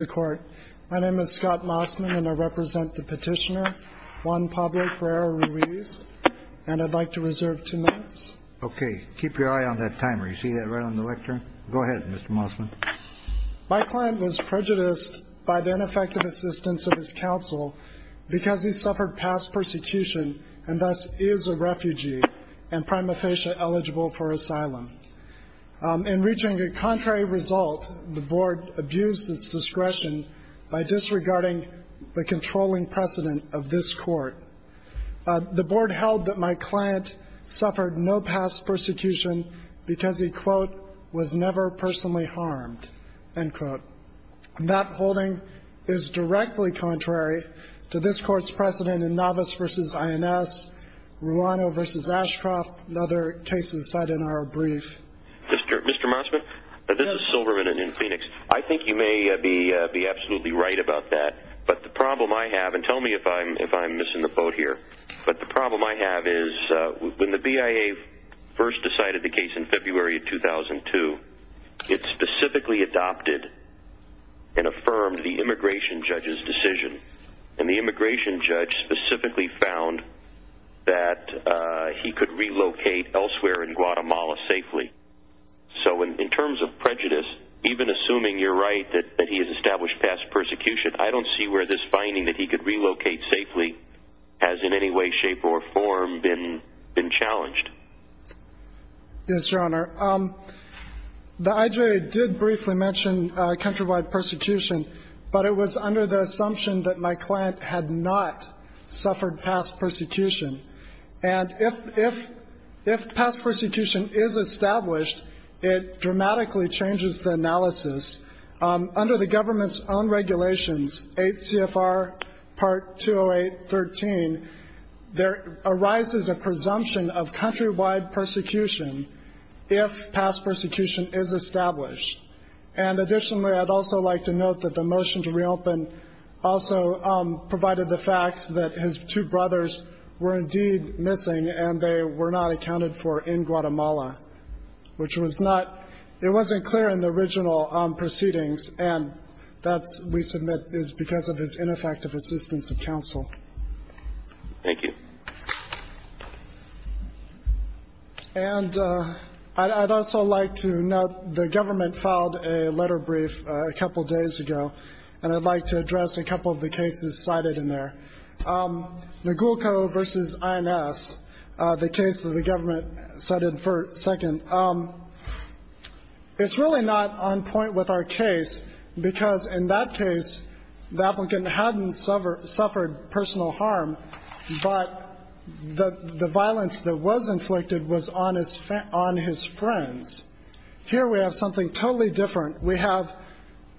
My name is Scott Mossman and I represent the petitioner Juan Pablo Herrera-Ruiz, and I'd like to reserve two minutes. Okay, keep your eye on that timer, you see that right on the lectern? Go ahead, Mr. Mossman. My client was prejudiced by the ineffective assistance of his counsel because he suffered past persecution and thus is a refugee and prima facie eligible for asylum. In reaching a contrary result, the board abused its discretion by disregarding the controlling precedent of this court. The board held that my client suffered no past persecution because he, quote, was never personally harmed, end quote. That holding is directly contrary to this court's precedent in Navas v. INS, Ruano v. Ashcroft, and other cases cited in our brief. Mr. Mossman, this is Silverman in Phoenix. I think you may be absolutely right about that, but the problem I have, and tell me if I'm missing the boat here, but the problem I have is when the BIA first decided the case in February of 2002, it specifically adopted and affirmed the immigration judge's decision. And the immigration judge specifically found that he could relocate elsewhere in Guatemala safely. So, in terms of prejudice, even assuming you're right that he has established past persecution, I don't see where this finding that he could relocate safely has in any way, shape, or form been challenged. Yes, Your Honor, the IJA did briefly mention countrywide persecution, but it was under the assumption that my client had not suffered past persecution. And if past persecution is established, it dramatically changes the analysis. Under the government's own regulations, 8 CFR Part 208.13, there arises a presumption of countrywide persecution if past persecution is established. And additionally, I'd also like to note that the motion to reopen also provided the facts that his two brothers were indeed missing and they were not accounted for in Guatemala, which was not, it wasn't clear in the original proceedings, and that, we submit, is because of his ineffective assistance of counsel. Thank you. And I'd also like to note the government filed a letter brief a couple days ago, and I'd like to address a couple of the cases cited in there. Nogulco v. INS, the case that the government cited for second, it's really not on point with our case because in that case, the applicant hadn't suffered personal harm, but the violence that was inflicted was on his friends. Here we have something totally different. We have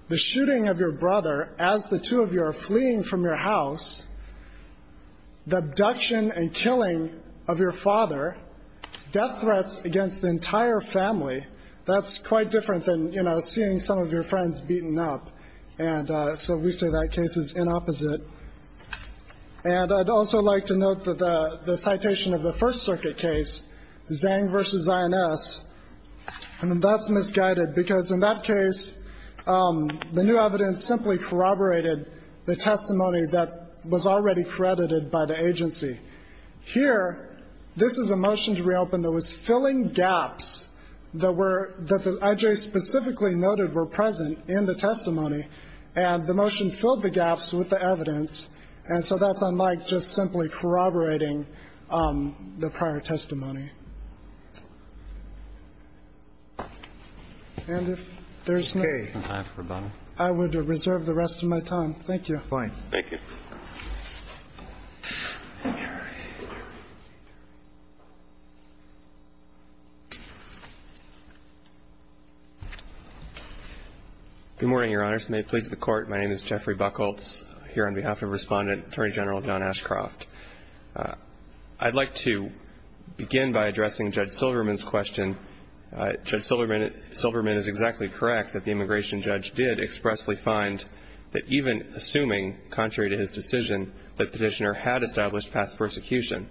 the shooting of your brother as the two of you are fleeing from your house, the abduction and killing of your father, death threats against the entire family. That's quite different than, you know, seeing some of your friends beaten up. And so we say that case is inopposite. And I'd also like to note that the citation of the First Circuit case, Zhang v. INS, that's misguided because in that case, the new evidence simply corroborated the testimony that was already credited by the agency. Here, this is a motion to reopen that was filling gaps that were the I.J. specifically noted were present in the testimony, and the motion filled the gaps with the evidence. And so that's unlike just simply corroborating the prior testimony. And if there's no other questions, I would reserve the rest of my time. Thank you. MR. BUCKHOLTZ Good morning, Your Honors. May it please the Court, my name is Jeffrey Buckholtz, here on behalf of Respondent Attorney General Don Ashcroft. I'd like to begin by addressing Judge Silverman's question. Judge Silverman is exactly correct that the immigration judge did expressly find that even assuming, contrary to his decision, that Petitioner had established past persecution,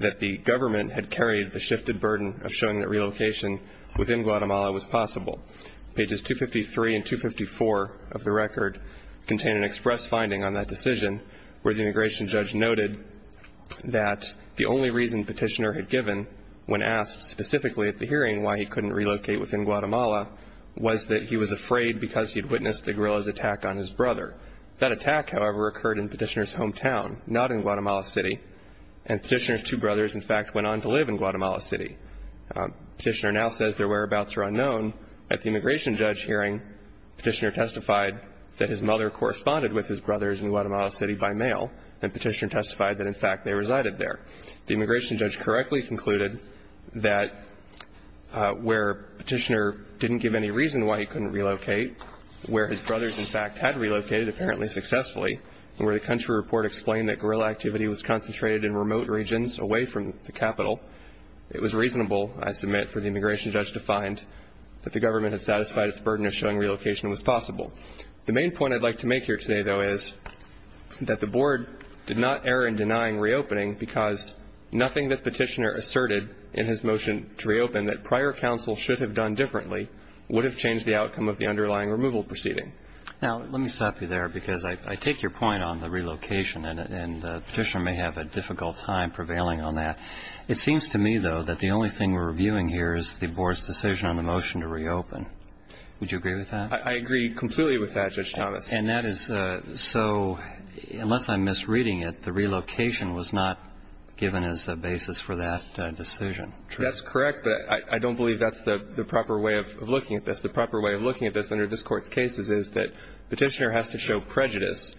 that the government had carried the shifted burden of showing that relocation within Guatemala was possible. Pages 253 and 254 of the record contain an express finding on that decision where the immigration judge noted that the only reason Petitioner had given when asked specifically at the hearing why he couldn't relocate within Guatemala was that he was afraid because he'd on his brother. That attack, however, occurred in Petitioner's hometown, not in Guatemala City. And Petitioner's two brothers, in fact, went on to live in Guatemala City. Petitioner now says their whereabouts are unknown. At the immigration judge hearing, Petitioner testified that his mother corresponded with his brothers in Guatemala City by mail, and Petitioner testified that, in fact, they resided there. The immigration judge correctly concluded that where Petitioner didn't give any reason why he couldn't relocate, where his brothers, in fact, had relocated, apparently successfully, and where the country report explained that guerrilla activity was concentrated in remote regions away from the capital, it was reasonable, I submit, for the immigration judge to find that the government had satisfied its burden of showing relocation was possible. The main point I'd like to make here today, though, is that the board did not err in denying reopening because nothing that Petitioner asserted in his motion to reopen that prior council should have done differently would have changed the outcome of the underlying removal proceeding. Now, let me stop you there, because I take your point on the relocation, and Petitioner may have a difficult time prevailing on that. It seems to me, though, that the only thing we're reviewing here is the board's decision on the motion to reopen. Would you agree with that? I agree completely with that, Judge Thomas. And that is so, unless I'm misreading it, the relocation was not given as a basis for that decision. That's correct, but I don't believe that's the proper way of looking at this. The proper way of looking at this under this Court's cases is that Petitioner has to show prejudice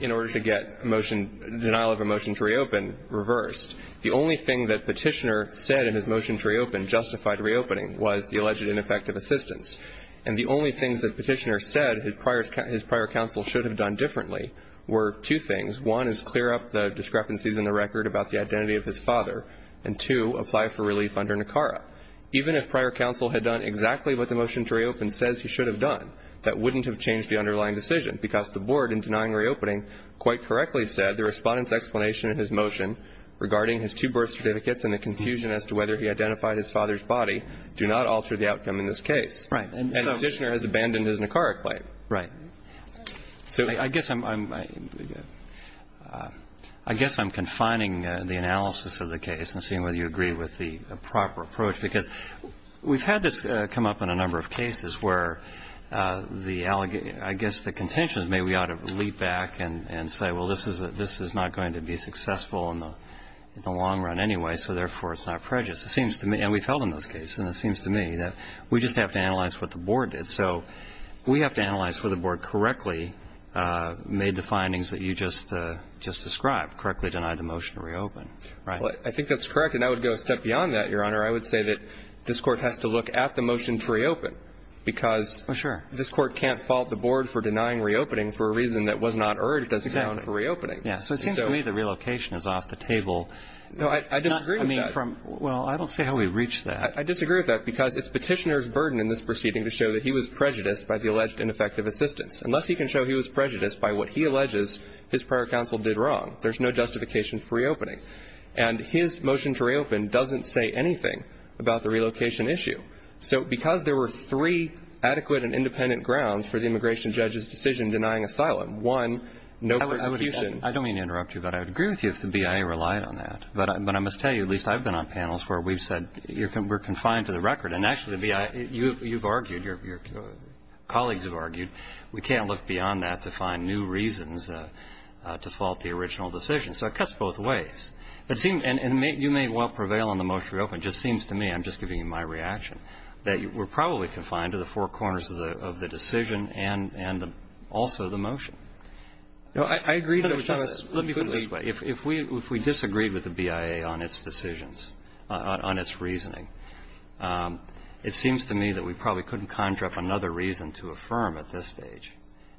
in order to get denial of a motion to reopen reversed. The only thing that Petitioner said in his motion to reopen justified reopening was the alleged ineffective assistance. And the only things that Petitioner said his prior council should have done differently were two things. One is clear up the discrepancies in the record about the identity of his father. And two, apply for relief under NACARA. Even if prior council had done exactly what the motion to reopen says he should have done, that wouldn't have changed the underlying decision. Because the board, in denying reopening, quite correctly said the Respondent's explanation in his motion regarding his two birth certificates and the confusion as to whether he identified his father's body do not alter the outcome in this case. Right. And Petitioner has abandoned his NACARA claim. Right. So I guess I'm confining the analysis of the case and seeing whether you agree with the proper approach. Because we've had this come up in a number of cases where I guess the contention is maybe we ought to leap back and say, well, this is not going to be successful in the long run anyway, so therefore it's not prejudice. It seems to me, and we've held in those cases, and it seems to me that we just have to analyze what the board did. So we have to analyze whether the board correctly made the findings that you just described, correctly denied the motion to reopen. Well, I think that's correct. And I would go a step beyond that, Your Honor. I would say that this Court has to look at the motion to reopen. Because this Court can't fault the board for denying reopening for a reason that was not urged, it doesn't count for reopening. Yeah. So it seems to me the relocation is off the table. No, I disagree with that. Well, I don't see how we've reached that. I disagree with that because it's Petitioner's burden in this proceeding to show that he was prejudiced by the alleged ineffective assistance. Unless he can show he was prejudiced by what he alleges his prior counsel did wrong, there's no justification for reopening. And his motion to reopen doesn't say anything about the relocation issue. So because there were three adequate and independent grounds for the immigration judge's decision denying asylum, one, no persecution. I don't mean to interrupt you, but I would agree with you if the BIA relied on that. But I must tell you, at least I've been on panels where we've said we're confined to the record. And actually, the BIA, you've argued, your colleagues have argued, we can't look beyond that to find new reasons to fault the original decision. So it cuts both ways. It seems, and you may well prevail on the motion to reopen. It just seems to me, I'm just giving you my reaction, that we're probably confined to the four corners of the decision and also the motion. No, I agree. Let me put it this way. If we disagreed with the BIA on its decisions, on its reasoning, it seems to me that we probably couldn't conjure up another reason to affirm at this stage.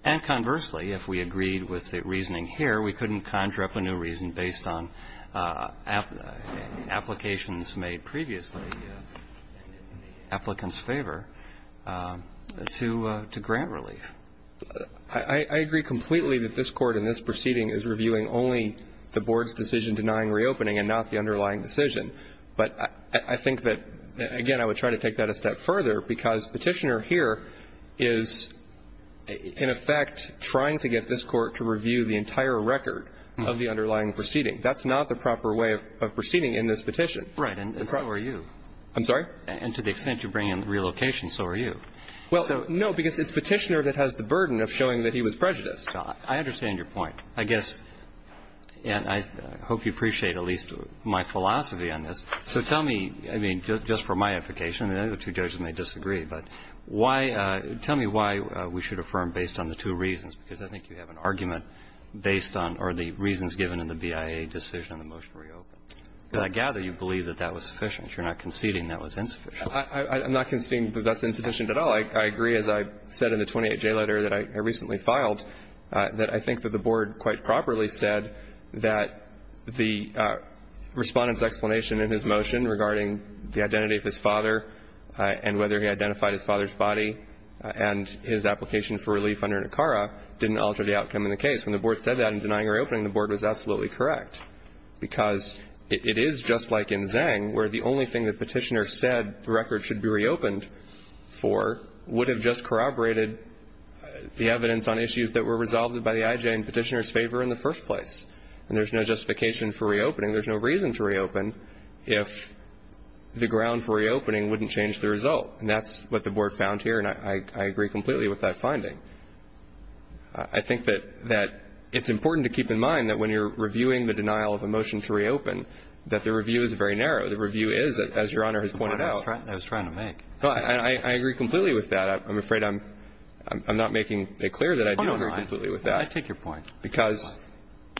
And conversely, if we agreed with the reasoning here, we couldn't conjure up a new reason based on applications made previously in the applicant's favor to grant relief. I agree completely that this Court in this proceeding is reviewing only the Board's decision denying reopening and not the underlying decision. But I think that, again, I would try to take that a step further because Petitioner here is, in effect, trying to get this Court to review the entire record of the underlying proceeding. That's not the proper way of proceeding in this petition. Right. And so are you. I'm sorry? And to the extent you bring in relocation, so are you. Well, no, because it's Petitioner that has the burden of showing that he was prejudiced. I understand your point. I guess, and I hope you appreciate at least my philosophy on this. So tell me, I mean, just for my edification, and the other two judges may disagree, but why – tell me why we should affirm based on the two reasons, because I think you have an argument based on – or the reasons given in the BIA decision on the motion to reopen. But I gather you believe that that was sufficient. You're not conceding that was insufficient. I'm not conceding that that's insufficient at all. I agree, as I said in the 28J letter that I recently filed, that I think that the Board quite properly said that the Respondent's explanation in his motion regarding the identity of his father and whether he identified his father's body and his application for relief under Nicara didn't alter the outcome in the case. When the Board said that in denying reopening, the Board was absolutely correct, because it is just like in Zhang, where the only thing the Petitioner said the record should be reopened for would have just corroborated the evidence on issues that were resolved by the IJ in Petitioner's favor in the first place. And there's no justification for reopening. There's no reason to reopen if the ground for reopening wouldn't change the result. And that's what the Board found here, and I agree completely with that finding. I think that it's important to keep in mind that when you're reviewing the denial of a motion to reopen, that the review is very narrow. The review is, as Your Honor has pointed out. That's the point I was trying to make. I agree completely with that. I'm afraid I'm not making it clear that I do agree completely with that. Oh, no, I take your point. Because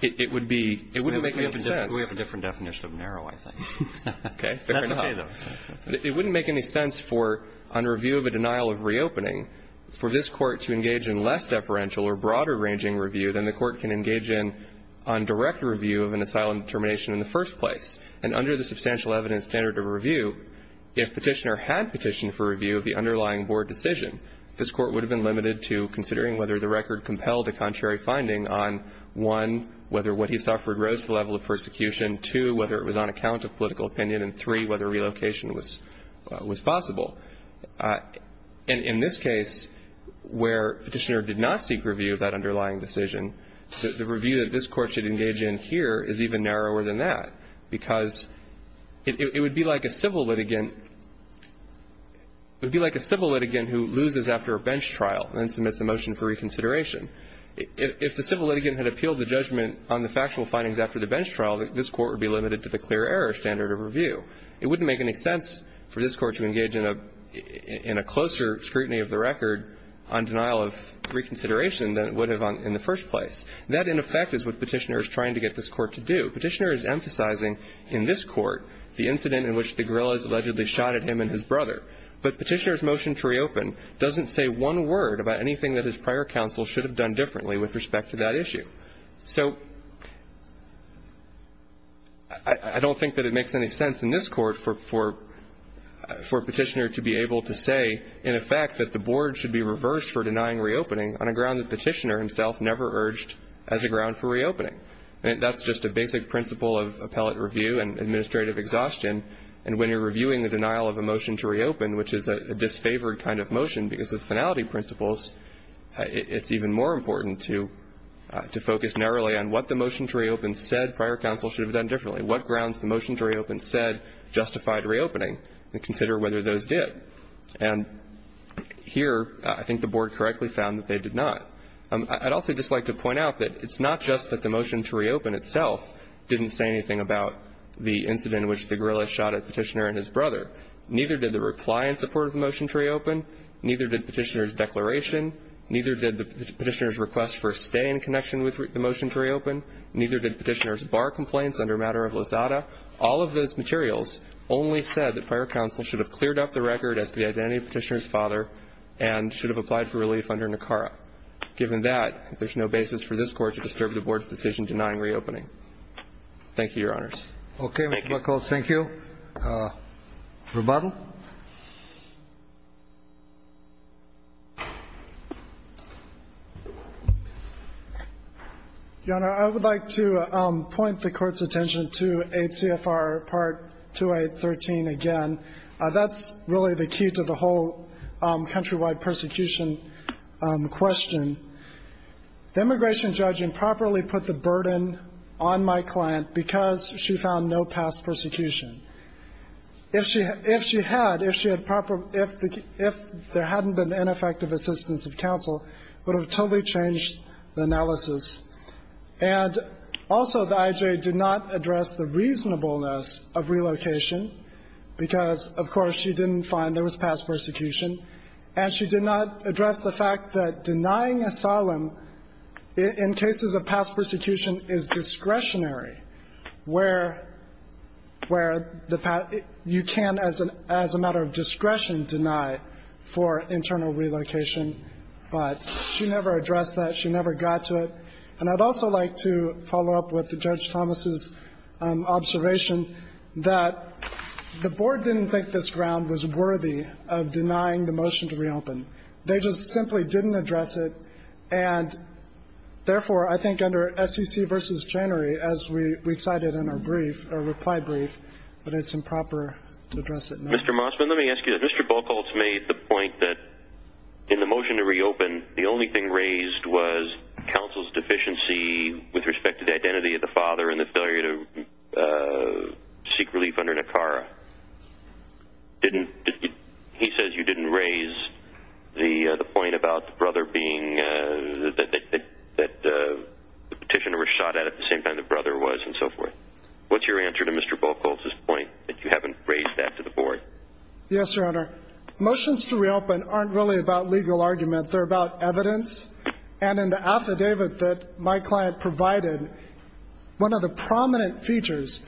it would be – it wouldn't make any sense. We have a different definition of narrow, I think. Okay. Fair enough. That's okay, though. It wouldn't make any sense for, on review of a denial of reopening, for this Court to engage in less deferential or broader-ranging review than the Court can engage in on direct review of an asylum determination in the first place. And under the substantial evidence standard of review, if Petitioner had petitioned for review of the underlying Board decision, this Court would have been limited to considering whether the record compelled a contrary finding on, one, whether what he suffered rose to the level of persecution, two, whether it was on account of political opinion, and three, whether relocation was possible. And in this case, where Petitioner did not seek review of that underlying decision, the review that this Court should engage in here is even narrower than that, because it would be like a civil litigant – it would be like a civil litigant who loses after a bench trial and then submits a motion for reconsideration. If the civil litigant had appealed the judgment on the factual findings after the bench trial, this Court would be limited to the clear error standard of review. It wouldn't make any sense for this Court to engage in a closer scrutiny of the record on denial of reconsideration than it would have in the first place. That, in effect, is what Petitioner is trying to get this Court to do. Petitioner is emphasizing in this Court the incident in which the guerrillas allegedly shot at him and his brother. But Petitioner's motion to reopen doesn't say one word about anything that his prior counsel should have done differently with respect to that issue. So I don't think that it makes any sense in this Court for Petitioner to be able to say, in effect, that the board should be reversed for denying reopening on a ground that Petitioner himself never urged as a ground for reopening. That's just a basic principle of appellate review and administrative exhaustion. And when you're reviewing the denial of a motion to reopen, which is a disfavored kind of motion because of finality principles, it's even more important to focus narrowly on what the motion to reopen said prior counsel should have done differently, what grounds the motion to reopen said justified reopening, and consider whether those did. And here, I think the board correctly found that they did not. I'd also just like to point out that it's not just that the motion to reopen itself didn't say anything about the incident in which the guerrillas shot at Petitioner and his brother. Neither did the reply in support of the motion to reopen. Neither did Petitioner's declaration. Neither did the Petitioner's request for a stay in connection with the motion to reopen. Neither did Petitioner's bar complaints under matter of Lozada. All of those materials only said that prior counsel should have cleared up the record as the identity of Petitioner's father and should have applied for relief under NACARA. Given that, there's no basis for this Court to disturb the board's decision denying reopening. Thank you, Your Honors. Okay, Mr. Blackall. Thank you. Rebuttal. Your Honor, I would like to point the Court's attention to ACFR Part 2813 again. That's really the key to the whole countrywide persecution question. The immigration judge improperly put the burden on my client because she found no past persecution. If she had, if there hadn't been ineffective assistance of counsel, it would have totally changed the analysis. And also, the IJA did not address the reasonableness of relocation because, of course, she didn't find there was past persecution. And she did not address the fact that denying asylum in cases of past persecution is discretionary where you can, as a matter of discretion, deny for internal relocation. But she never addressed that. She never got to it. And I'd also like to follow up with Judge Thomas' observation that the board didn't think this ground was worthy of denying the motion to reopen. They just simply didn't address it. And therefore, I think under SEC v. Janery, as we cited in our brief, our reply brief, that it's improper to address it now. Mr. Mossman, let me ask you, Mr. Blackall made the point that in the motion to reopen, the only thing raised was counsel's deficiency with respect to the identity of the father and the failure to seek relief under Nicara. Didn't, he says you didn't raise the point about the brother being, that the petitioner was shot at at the same time the brother was and so forth. What's your answer to Mr. Blackall's point that you haven't raised that to the board? Yes, Your Honor. Motions to reopen aren't really about legal argument. They're about evidence. And in the affidavit that my client provided, one of the prominent features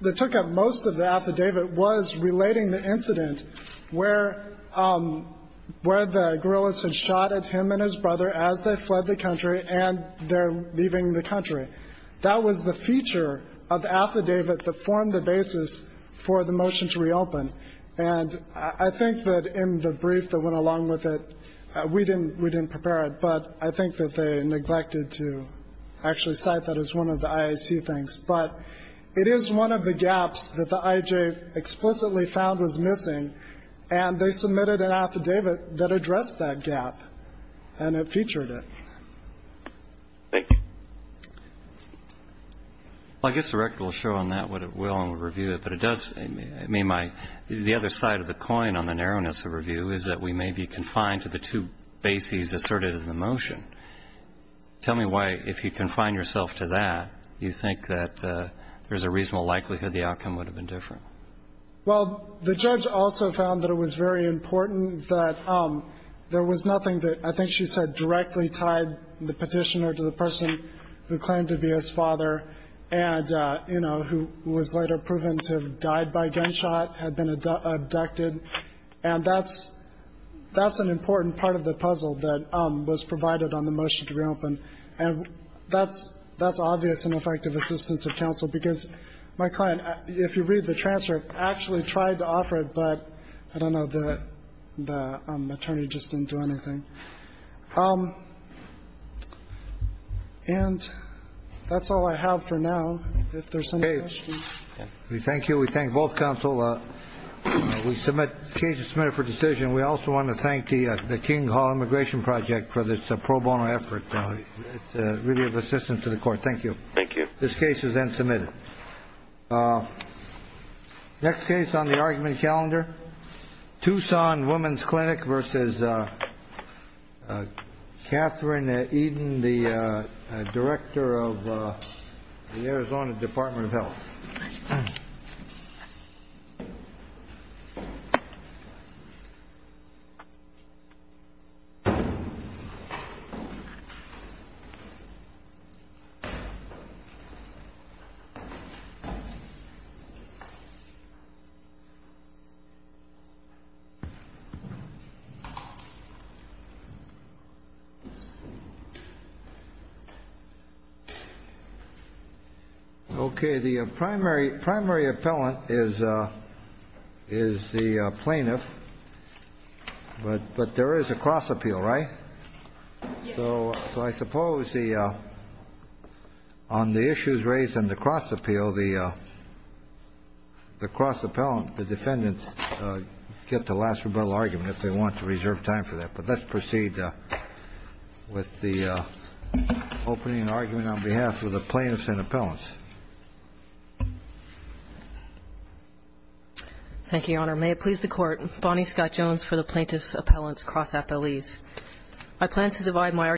that took up most of the affidavit was relating the incident where the guerrillas had shot at him and his brother as they fled the country and they're leaving the country. That was the feature of the affidavit that formed the basis for the motion to reopen. And I think that in the brief that went along with it, we didn't prepare it, but I think that they neglected to actually cite that as one of the IAC things. But it is one of the gaps that the IJ explicitly found was missing and they submitted an affidavit that addressed that gap and it featured it. Thank you. Well, I guess the record will show on that what it will and we'll review it. But it does, I mean, my, the other side of the coin on the narrowness of review is that we may be confined to the two bases asserted in the motion. Tell me why, if you confine yourself to that, you think that there's a reasonable likelihood the outcome would have been different. Well, the judge also found that it was very important that there was nothing that I think she said directly tied the petitioner to the person who claimed to be his father and, you know, who was later proven to have died by gunshot, had been abducted. And that's an important part of the puzzle that was provided on the motion to reopen. And that's obvious and effective assistance of counsel, because my client, if you read the transfer, actually tried to offer it, but I don't know, the attorney just didn't do anything. And that's all I have for now. If there's any questions. We thank you. We thank both counsel. We submit cases submitted for decision. We also want to thank the King Hall Immigration Project for this pro bono effort. It's really of assistance to the court. Thank you. Thank you. This case is then submitted. Next case on the argument calendar, Tucson Women's Clinic versus Catherine Eden, the director of the Arizona Department of Health. OK, the primary primary appellant is. Is the plaintiff, but but there is a cross appeal, right? So I suppose the on the issues raised in the cross appeal, the the cross appellant, the defendants get the last rebuttal argument if they want to reserve time for that. But let's proceed with the opening argument on behalf of the plaintiffs and appellants. Thank you, Your Honor. May it please the court. Bonnie Scott Jones for the plaintiff's appellant's cross appellees. I plan to divide my